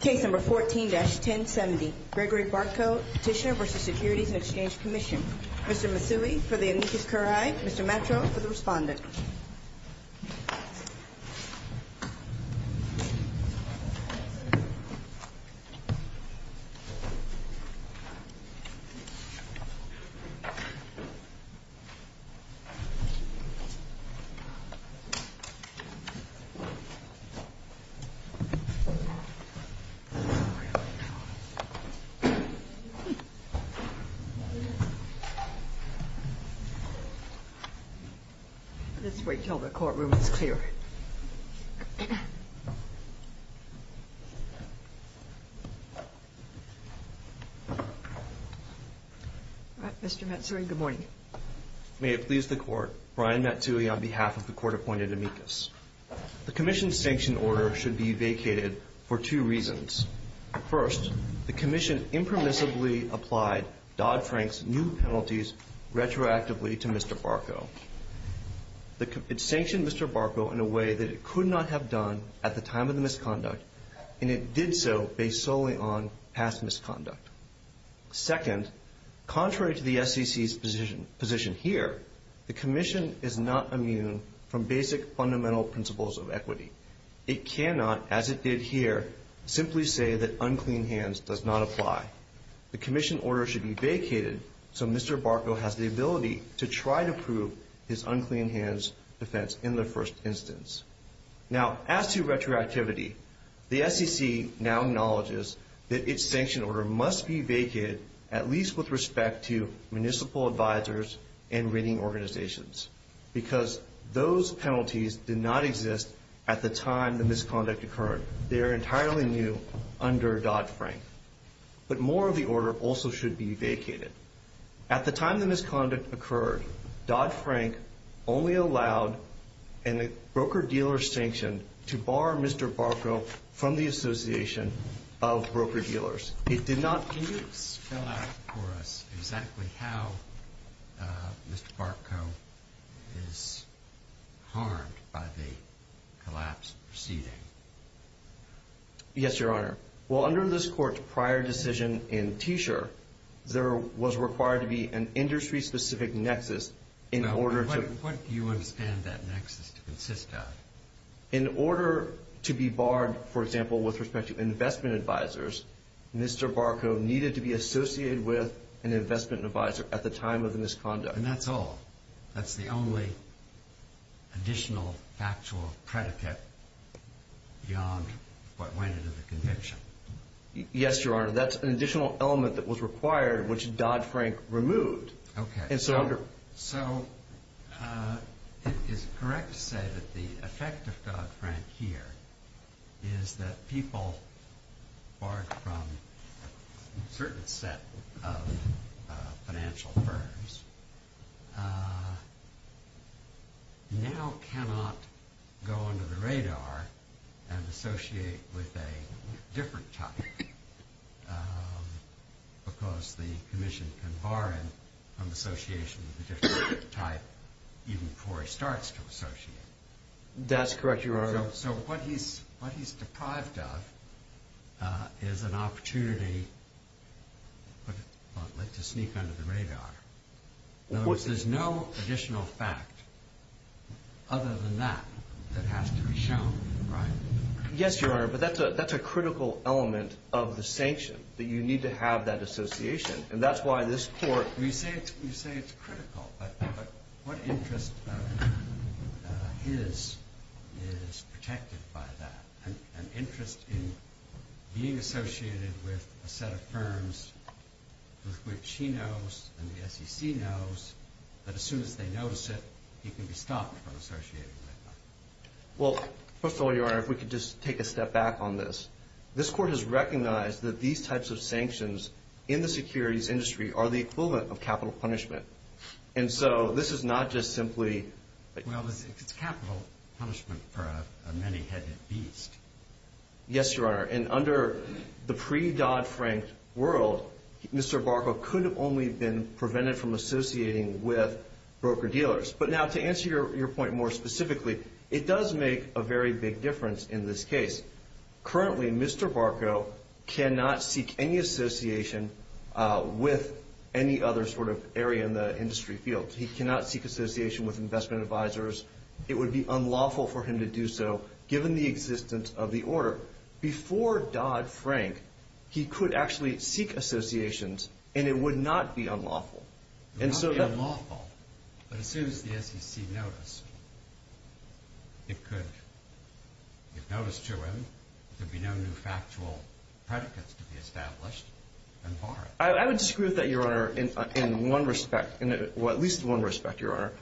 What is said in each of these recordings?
Case number 14-1070, Gregory Bartko, Petitioner v. Securities and Exchange Commission. Mr. Masui for the amicus curiae, Mr. Metro for the respondent. Let's wait until the courtroom is clear. Mr. Matsui, good morning. May it please the court, Brian Matsui on behalf of the court-appointed amicus. The commission's sanction order should be vacated for two reasons. First, the commission impermissibly applied Dodd-Frank's new penalties retroactively to Mr. Bartko. It sanctioned Mr. Bartko in a way that it could not have done at the time of the misconduct, and it did so based solely on past misconduct. Second, contrary to the SEC's position here, the commission is not immune from basic fundamental principles of equity. It cannot, as it did here, simply say that unclean hands does not apply. The commission order should be vacated so Mr. Bartko has the ability to try to prove his unclean hands defense in the first instance. Now, as to retroactivity, the SEC now acknowledges that its sanction order must be vacated, at least with respect to municipal advisors and rating organizations, because those penalties did not exist at the time the misconduct occurred. They are entirely new under Dodd-Frank. But more of the order also should be vacated. At the time the misconduct occurred, Dodd-Frank only allowed in the broker-dealer sanction to bar Mr. Bartko from the association of broker-dealers. It did not – Can you spell out for us exactly how Mr. Bartko is harmed by the collapse proceeding? Yes, Your Honor. Well, under this Court's prior decision in Teasure, there was required to be an industry-specific nexus in order to – Now, what do you understand that nexus to consist of? In order to be barred, for example, with respect to investment advisors, Mr. Bartko needed to be associated with an investment advisor at the time of the misconduct. And that's all? That's the only additional factual predicate beyond what went into the conviction? Yes, Your Honor. That's an additional element that was required, which Dodd-Frank removed. Okay. So it is correct to say that the effect of Dodd-Frank here is that people barred from a certain set of financial firms now cannot go under the radar and associate with a different type because the Commission can bar him from association with a different type even before he starts to associate. That's correct, Your Honor. So what he's deprived of is an opportunity to sneak under the radar. There's no additional fact other than that that has to be shown, right? Yes, Your Honor, but that's a critical element of the sanction, that you need to have that association. And that's why this Court – Well, you say it's critical, but what interest of his is protected by that? An interest in being associated with a set of firms with which he knows and the SEC knows that as soon as they notice it, he can be stopped from associating with them. Well, first of all, Your Honor, if we could just take a step back on this. This Court has recognized that these types of sanctions in the securities industry are the equivalent of capital punishment. And so this is not just simply – Well, it's capital punishment for a many-headed beast. Yes, Your Honor. And under the pre-Dodd-Frank world, Mr. Barco could have only been prevented from associating with broker-dealers. But now, to answer your point more specifically, it does make a very big difference in this case. Currently, Mr. Barco cannot seek any association with any other sort of area in the industry field. He cannot seek association with investment advisors. It would be unlawful for him to do so, given the existence of the order. Before Dodd-Frank, he could actually seek associations, and it would not be unlawful. It would not be unlawful, but as soon as the SEC noticed, it could – if noticed to him, there would be no new factual predicates to be established and bar him. I would disagree with that, Your Honor, in one respect. Well, at least in one respect, Your Honor.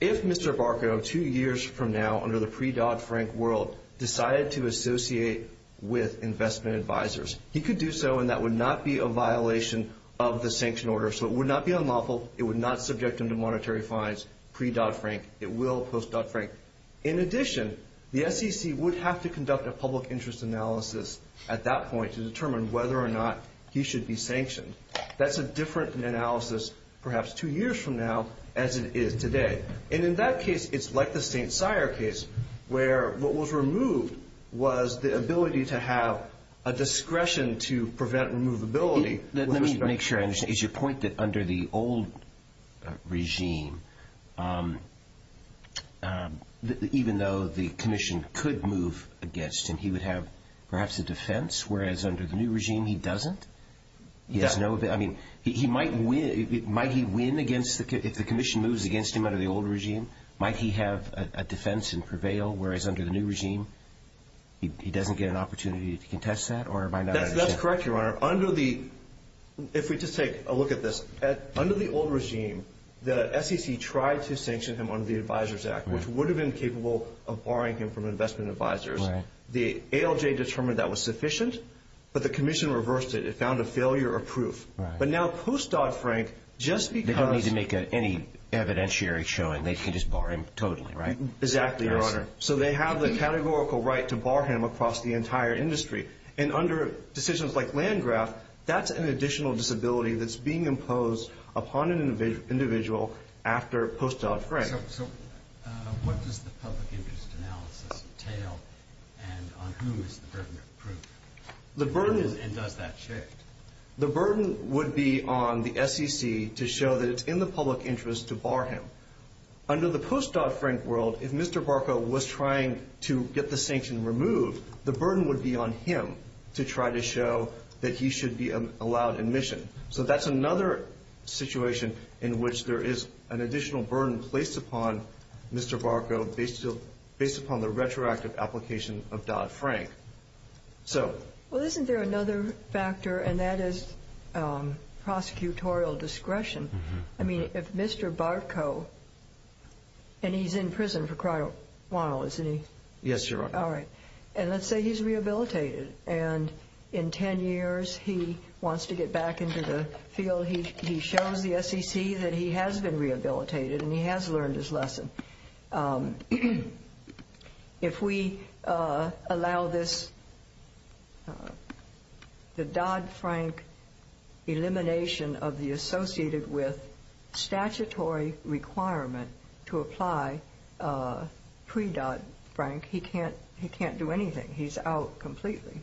If Mr. Barco, two years from now, under the pre-Dodd-Frank world, decided to associate with investment advisors, he could do so, and that would not be a violation of the sanction order. So it would not be unlawful. It would not subject him to monetary fines pre-Dodd-Frank. It will post-Dodd-Frank. In addition, the SEC would have to conduct a public interest analysis at that point to determine whether or not he should be sanctioned. That's a different analysis, perhaps two years from now, as it is today. And in that case, it's like the St. Cyr case, where what was removed was the ability to have a discretion to prevent removability. Let me make sure I understand. Is your point that under the old regime, even though the commission could move against him, he would have perhaps a defense, whereas under the new regime, he doesn't? Yes. Might he win if the commission moves against him under the old regime? Might he have a defense and prevail, whereas under the new regime, he doesn't get an opportunity to contest that? That's correct, Your Honor. If we just take a look at this, under the old regime, the SEC tried to sanction him under the Advisors Act, which would have been capable of barring him from investment advisors. The ALJ determined that was sufficient, but the commission reversed it. It found a failure of proof. But now post-Dodd-Frank, just because— They don't need to make any evidentiary showing. They can just bar him totally, right? Exactly, Your Honor. So they have the categorical right to bar him across the entire industry. And under decisions like Landgraf, that's an additional disability that's being imposed upon an individual after post-Dodd-Frank. So what does the public interest analysis entail, and on whom is the burden of proof? And does that shift? The burden would be on the SEC to show that it's in the public interest to bar him. Under the post-Dodd-Frank world, if Mr. Barco was trying to get the sanction removed, the burden would be on him to try to show that he should be allowed admission. So that's another situation in which there is an additional burden placed upon Mr. Barco based upon the retroactive application of Dodd-Frank. Well, isn't there another factor, and that is prosecutorial discretion? I mean, if Mr. Barco—and he's in prison for quite a while, isn't he? Yes, Your Honor. All right. And let's say he's rehabilitated, and in 10 years he wants to get back into the field. He shows the SEC that he has been rehabilitated and he has learned his lesson. If we allow this, the Dodd-Frank elimination of the associated with statutory requirement to apply pre-Dodd-Frank, he can't do anything. He's out completely.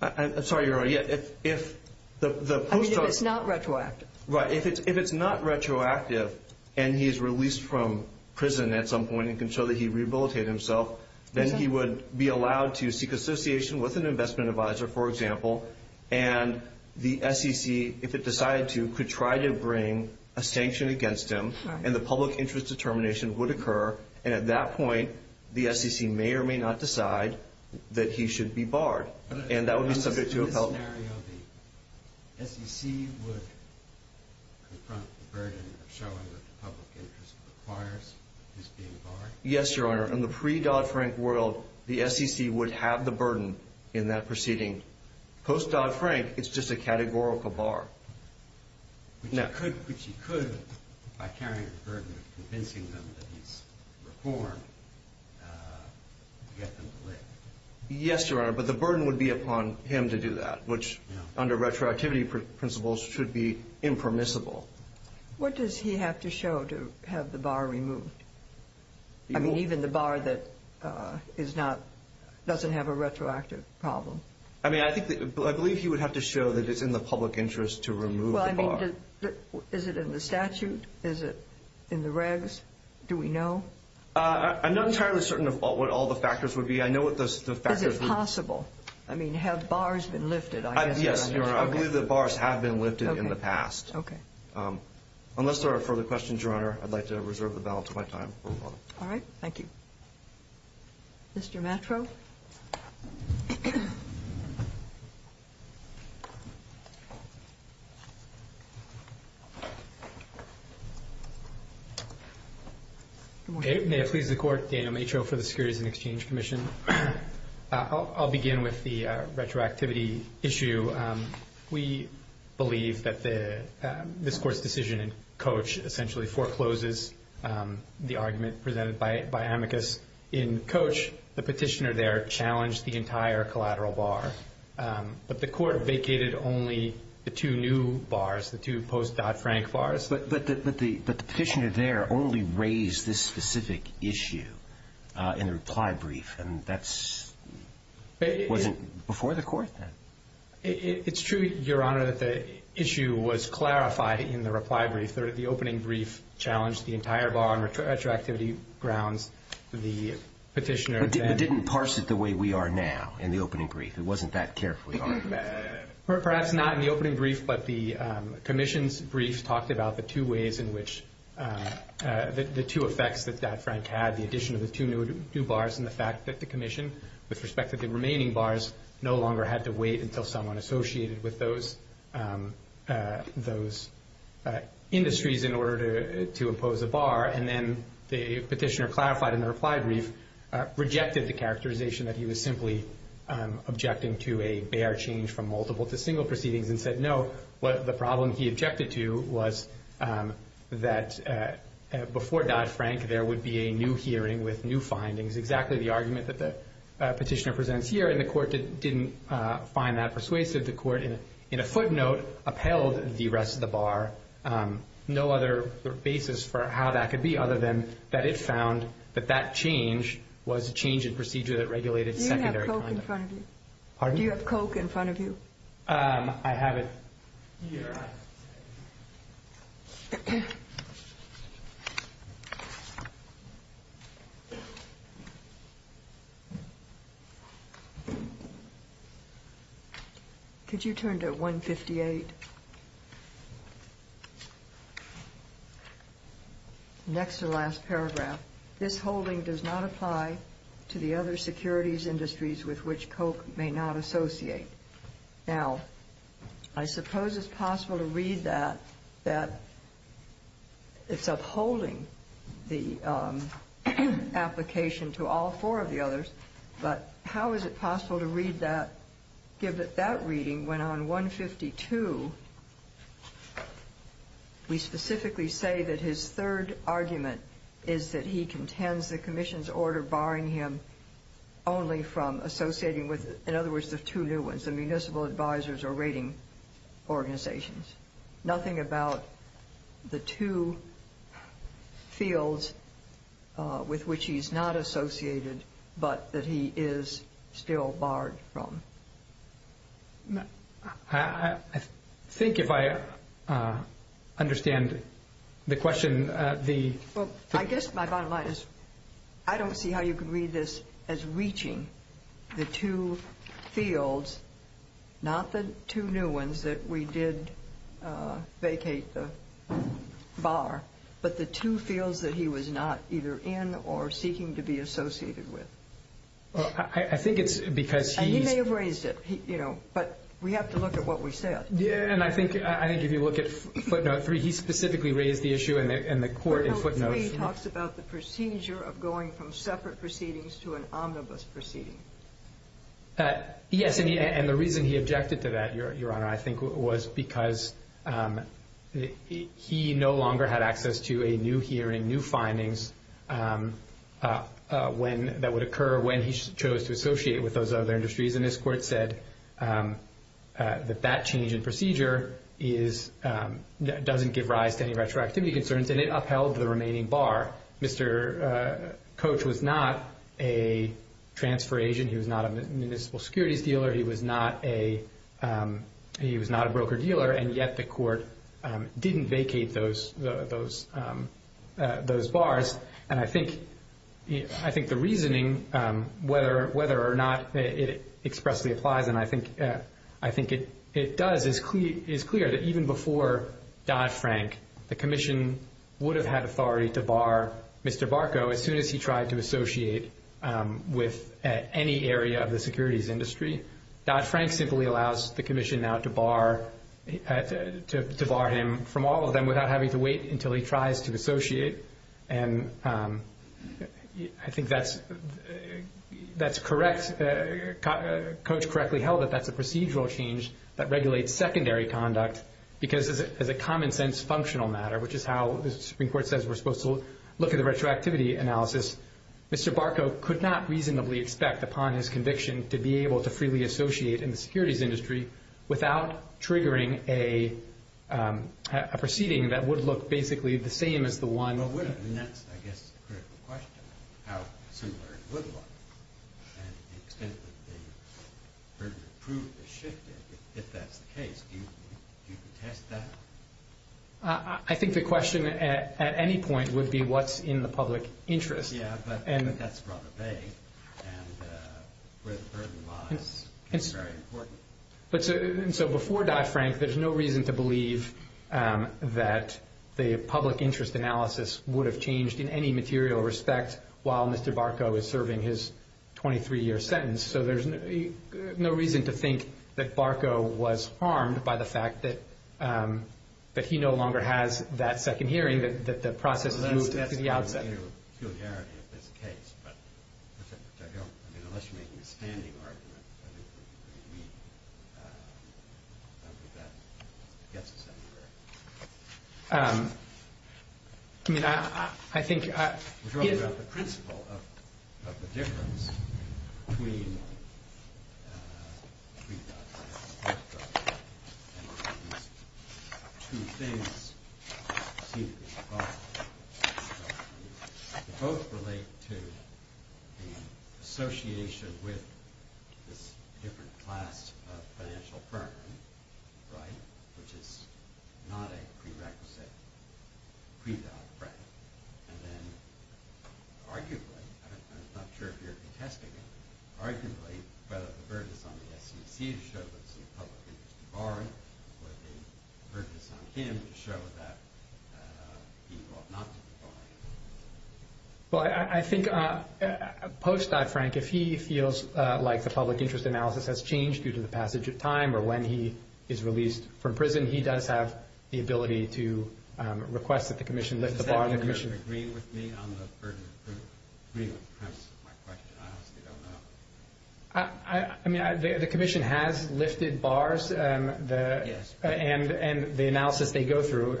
I'm sorry, Your Honor. If the post-Dodd— I mean, if it's not retroactive. Right. If it's not retroactive and he is released from prison at some point and can show that he rehabilitated himself, then he would be allowed to seek association with an investment advisor, for example, and the SEC, if it decided to, could try to bring a sanction against him, and the public interest determination would occur. And at that point, the SEC may or may not decide that he should be barred. And that would be subject to appellation. In this scenario, the SEC would confront the burden of showing that the public interest requires his being barred? Yes, Your Honor. In the pre-Dodd-Frank world, the SEC would have the burden in that proceeding. Post-Dodd-Frank, it's just a categorical bar. Which he could, by carrying the burden of convincing them that he's reformed, get them to live. Yes, Your Honor, but the burden would be upon him to do that, which under retroactivity principles should be impermissible. What does he have to show to have the bar removed? I mean, even the bar that doesn't have a retroactive problem. I mean, I believe he would have to show that it's in the public interest to remove the bar. Well, I mean, is it in the statute? Is it in the regs? Do we know? I'm not entirely certain of what all the factors would be. I know what the factors would be. Is it possible? I mean, have bars been lifted? Yes, Your Honor. I believe that bars have been lifted in the past. Okay. Unless there are further questions, Your Honor, I'd like to reserve the balance of my time. All right. Thank you. Mr. Matro? May it please the Court, Daniel Matro for the Securities and Exchange Commission. I'll begin with the retroactivity issue. We believe that this Court's decision in Coach essentially forecloses the argument presented by Amicus. The petitioner there challenged the entire collateral bar, but the Court vacated only the two new bars, the two post-Dodd-Frank bars. But the petitioner there only raised this specific issue in the reply brief, and that wasn't before the Court then? It's true, Your Honor, that the issue was clarified in the reply brief. The opening brief challenged the entire bar on retroactivity grounds. But it didn't parse it the way we are now in the opening brief? It wasn't that careful, Your Honor? Perhaps not in the opening brief, but the Commission's brief talked about the two ways in which the two effects that Dodd-Frank had, the addition of the two new bars and the fact that the Commission, with respect to the remaining bars, no longer had to wait until someone associated with those industries in order to impose a bar. And then the petitioner clarified in the reply brief, rejected the characterization that he was simply objecting to a bare change from multiple to single proceedings and said no. The problem he objected to was that before Dodd-Frank, there would be a new hearing with new findings. Exactly the argument that the petitioner presents here, and the Court didn't find that persuasive. The Court, in a footnote, upheld the rest of the bar. No other basis for how that could be other than that it found that that change was a change in procedure that regulated secondary conduct. Do you have Coke in front of you? I have it. Could you turn to 158? Next to the last paragraph. This holding does not apply to the other securities industries with which Coke may not associate. Now, I suppose it's possible to read that it's upholding the application to all four of the others, but how is it possible to give that reading when on 152 we specifically say that his third argument is that he contends the commission's order barring him only from associating with, in other words, the two new ones, the municipal advisors or rating organizations. Nothing about the two fields with which he's not associated, but that he is still barred from. I think if I understand the question, the... vacate the bar, but the two fields that he was not either in or seeking to be associated with. I think it's because he's... And he may have raised it, you know, but we have to look at what we said. Yeah, and I think if you look at footnote three, he specifically raised the issue and the Court in footnotes... Footnote three talks about the procedure of going from separate proceedings to an omnibus proceeding. Yes, and the reason he objected to that, Your Honor, I think was because he no longer had access to a new hearing, new findings that would occur when he chose to associate with those other industries. And this Court said that that change in procedure doesn't give rise to any retroactivity concerns, and it upheld the remaining bar. Mr. Coach was not a transfer agent. He was not a municipal securities dealer. He was not a broker-dealer, and yet the Court didn't vacate those bars. And I think the reasoning, whether or not it expressly applies, and I think it does, is clear that even before Dodd-Frank, the Commission would have had authority to bar Mr. Barco as soon as he tried to associate with any area of the securities industry. Dodd-Frank simply allows the Commission now to bar him from all of them without having to wait until he tries to associate. And I think that's correct. Coach correctly held that that's a procedural change that regulates secondary conduct because as a common-sense functional matter, which is how the Supreme Court says we're supposed to look at the retroactivity analysis, Mr. Barco could not reasonably expect upon his conviction to be able to freely associate in the securities industry without triggering a proceeding that would look basically the same as the one... Well, wouldn't it? And that's, I guess, the critical question, how similar it would look. And the extent that the burden of proof is shifted, if that's the case, do you contest that? I think the question at any point would be what's in the public interest. Yeah, but that's rather vague, and where the burden lies is very important. So before Dodd-Frank, there's no reason to believe that the public interest analysis would have changed in any material respect while Mr. Barco is serving his 23-year sentence. So there's no reason to think that Barco was harmed by the fact that he no longer has that second hearing, that the process has moved to the outset. I don't want to get into peculiarity of this case, but unless you're making a standing argument, I don't think that gets us anywhere. I mean, I think... We're talking about the principle of the difference between Dodd-Frank and Barco, and these two things seem to be involved. They both relate to the association with this different class of financial burden, right, which is not a prerequisite pre-Dodd-Frank. And then arguably, I'm not sure if you're contesting it, arguably, whether the burden is on the SEC to show that it's in the public interest to bar him or the burden is on him to show that he ought not to be barred. Well, I think post-Dodd-Frank, if he feels like the public interest analysis has changed due to the passage of time or when he is released from prison, he does have the ability to request that the commission lift the bar on the commission. Does that mean you're agreeing with me on the burden? Agreeing with perhaps my question, I honestly don't know. I mean, the commission has lifted bars. Yes. And the analysis they go through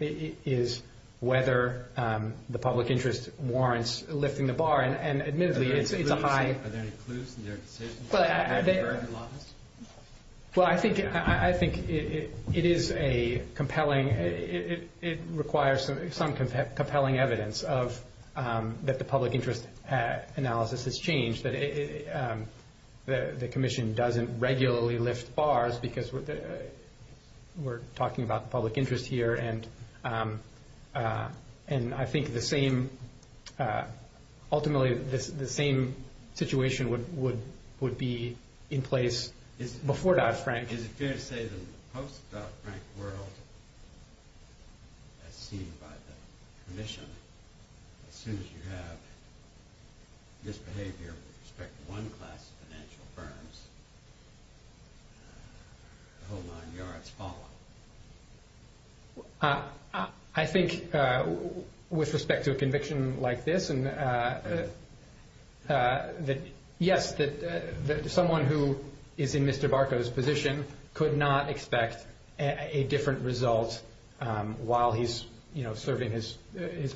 is whether the public interest warrants lifting the bar. And admittedly, it's a high... Well, I think it is a compelling, it requires some compelling evidence that the public interest analysis has changed, that the commission doesn't regularly lift bars because we're talking about the public interest here. And I think ultimately the same situation would be in place before Dodd-Frank. Is it fair to say that in the post-Dodd-Frank world, as seen by the commission, as soon as you have misbehavior with respect to one class of financial firms, the whole nine yards fall? I think with respect to a conviction like this, yes, that someone who is in Mr. Barco's position could not expect a different result while he's serving his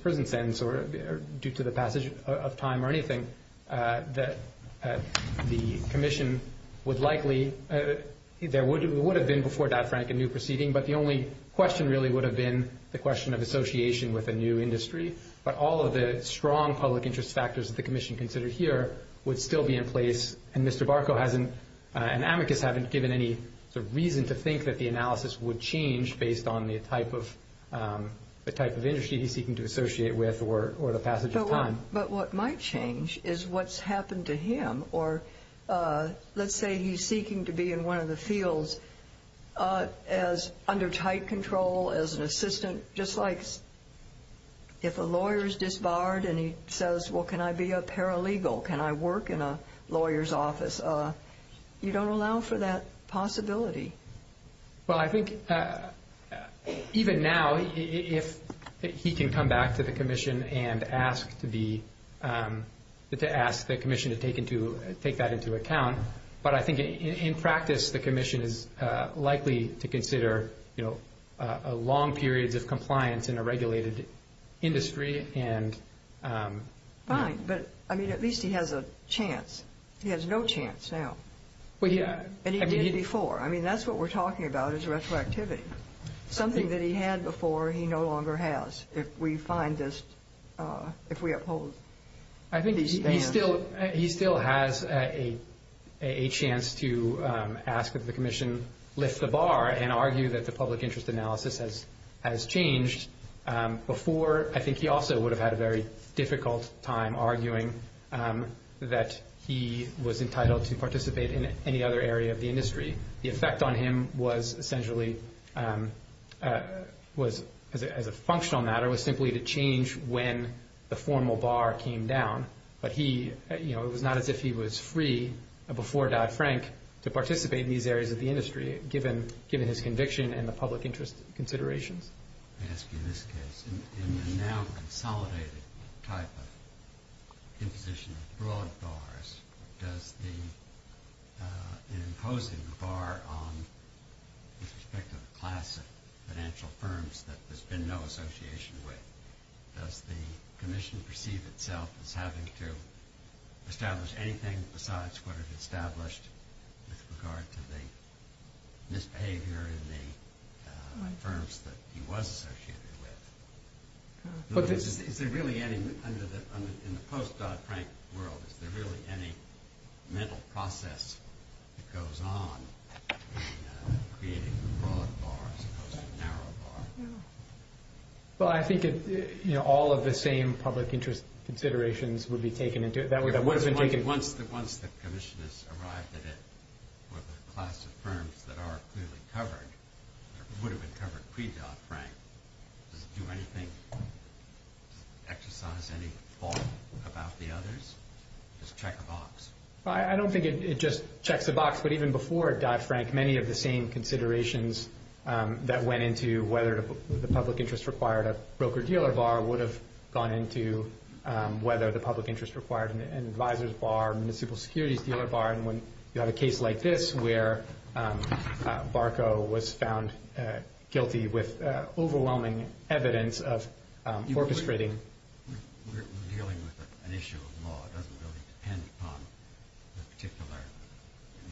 prison sentence or due to the passage of time or anything. The commission would likely, there would have been before Dodd-Frank a new proceeding, but the only question really would have been the question of association with a new industry. But all of the strong public interest factors that the commission considered here would still be in place. And Mr. Barco hasn't, and amicus, haven't given any reason to think that the analysis would change based on the type of industry he's seeking to associate with or the passage of time. But what might change is what's happened to him. Or let's say he's seeking to be in one of the fields as under tight control, as an assistant, just like if a lawyer is disbarred and he says, well, can I be a paralegal? Can I work in a lawyer's office? You don't allow for that possibility. Well, I think even now if he can come back to the commission and ask to be, to ask the commission to take that into account, but I think in practice the commission is likely to consider long periods of compliance in a regulated industry. Fine, but at least he has a chance. He has no chance now. And he did before. I mean, that's what we're talking about is retroactivity, something that he had before he no longer has if we find this, if we uphold these plans. I think he still has a chance to ask that the commission lift the bar and argue that the public interest analysis has changed before. I think he also would have had a very difficult time arguing that he was entitled to participate in any other area of the industry. The effect on him was essentially, as a functional matter, was simply to change when the formal bar came down. But he, you know, it was not as if he was free before Dodd-Frank to participate in these areas of the industry, given his conviction and the public interest considerations. Let me ask you this case. In the now consolidated type of imposition of broad bars, does the imposing the bar on, with respect to the class of financial firms that there's been no association with, does the commission perceive itself as having to establish anything besides what it established with regard to the misbehavior in the firms that he was associated with? Is there really any, in the post-Dodd-Frank world, is there really any mental process that goes on in creating a broad bar as opposed to a narrow bar? Well, I think all of the same public interest considerations would be taken into it. Once the commission has arrived at it, with the class of firms that are clearly covered, or would have been covered pre-Dodd-Frank, does it do anything, exercise any thought about the others? Does it check a box? I don't think it just checks a box, but even before Dodd-Frank, many of the same considerations that went into whether the public interest required a broker-dealer bar would have gone into whether the public interest required an advisor's bar, municipal securities dealer bar, and when you have a case like this where Barco was found guilty with overwhelming evidence of orchestrating. We're dealing with an issue of law. It doesn't really depend upon the particular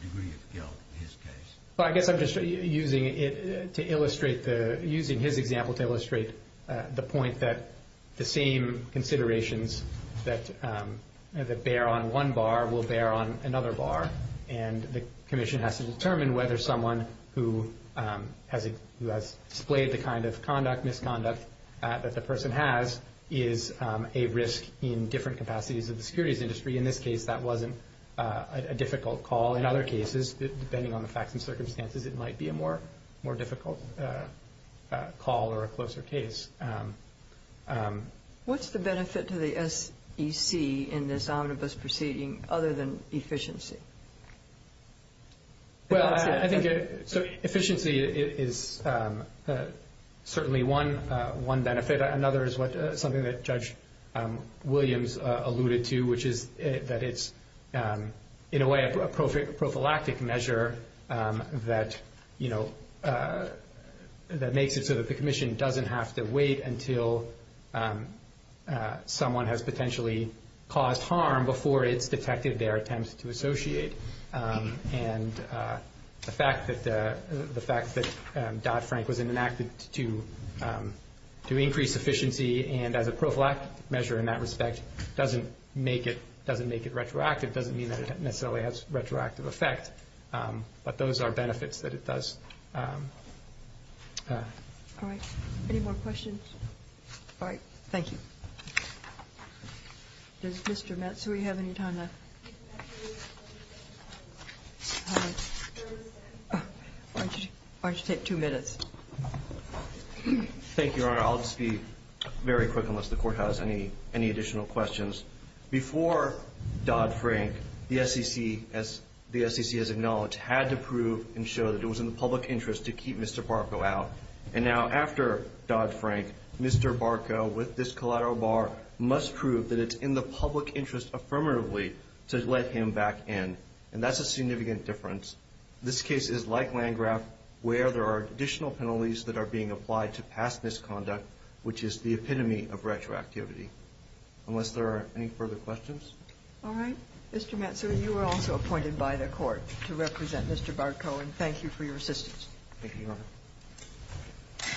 degree of guilt in his case. Well, I guess I'm just using his example to illustrate the point that the same considerations that bear on one bar will bear on another bar, and the commission has to determine whether someone who has displayed the kind of conduct, misconduct that the person has is a risk in different capacities of the securities industry. In this case, that wasn't a difficult call. In other cases, depending on the facts and circumstances, it might be a more difficult call or a closer case. What's the benefit to the SEC in this omnibus proceeding other than efficiency? Well, I think efficiency is certainly one benefit. Another is something that Judge Williams alluded to, which is that it's in a way a prophylactic measure that makes it so that the commission doesn't have to wait until someone has potentially caused harm before it's detected their attempt to associate. And the fact that Dodd-Frank was enacted to increase efficiency and as a prophylactic measure in that respect doesn't make it retroactive. It doesn't mean that it necessarily has a retroactive effect, but those are benefits that it does. All right. Any more questions? All right. Thank you. Does Mr. Matsui have any time left? Why don't you take two minutes? Thank you, Your Honor. I'll just be very quick unless the Court has any additional questions. Before Dodd-Frank, the SEC, as the SEC has acknowledged, had to prove and show that it was in the public interest to keep Mr. Barco out. And now after Dodd-Frank, Mr. Barco, with this collateral bar, must prove that it's in the public interest affirmatively to let him back in. And that's a significant difference. This case is like Landgraf where there are additional penalties that are being applied to past misconduct, which is the epitome of retroactivity. Unless there are any further questions? All right. Mr. Matsui, you are also appointed by the Court to represent Mr. Barco. And thank you for your assistance. Thank you, Your Honor.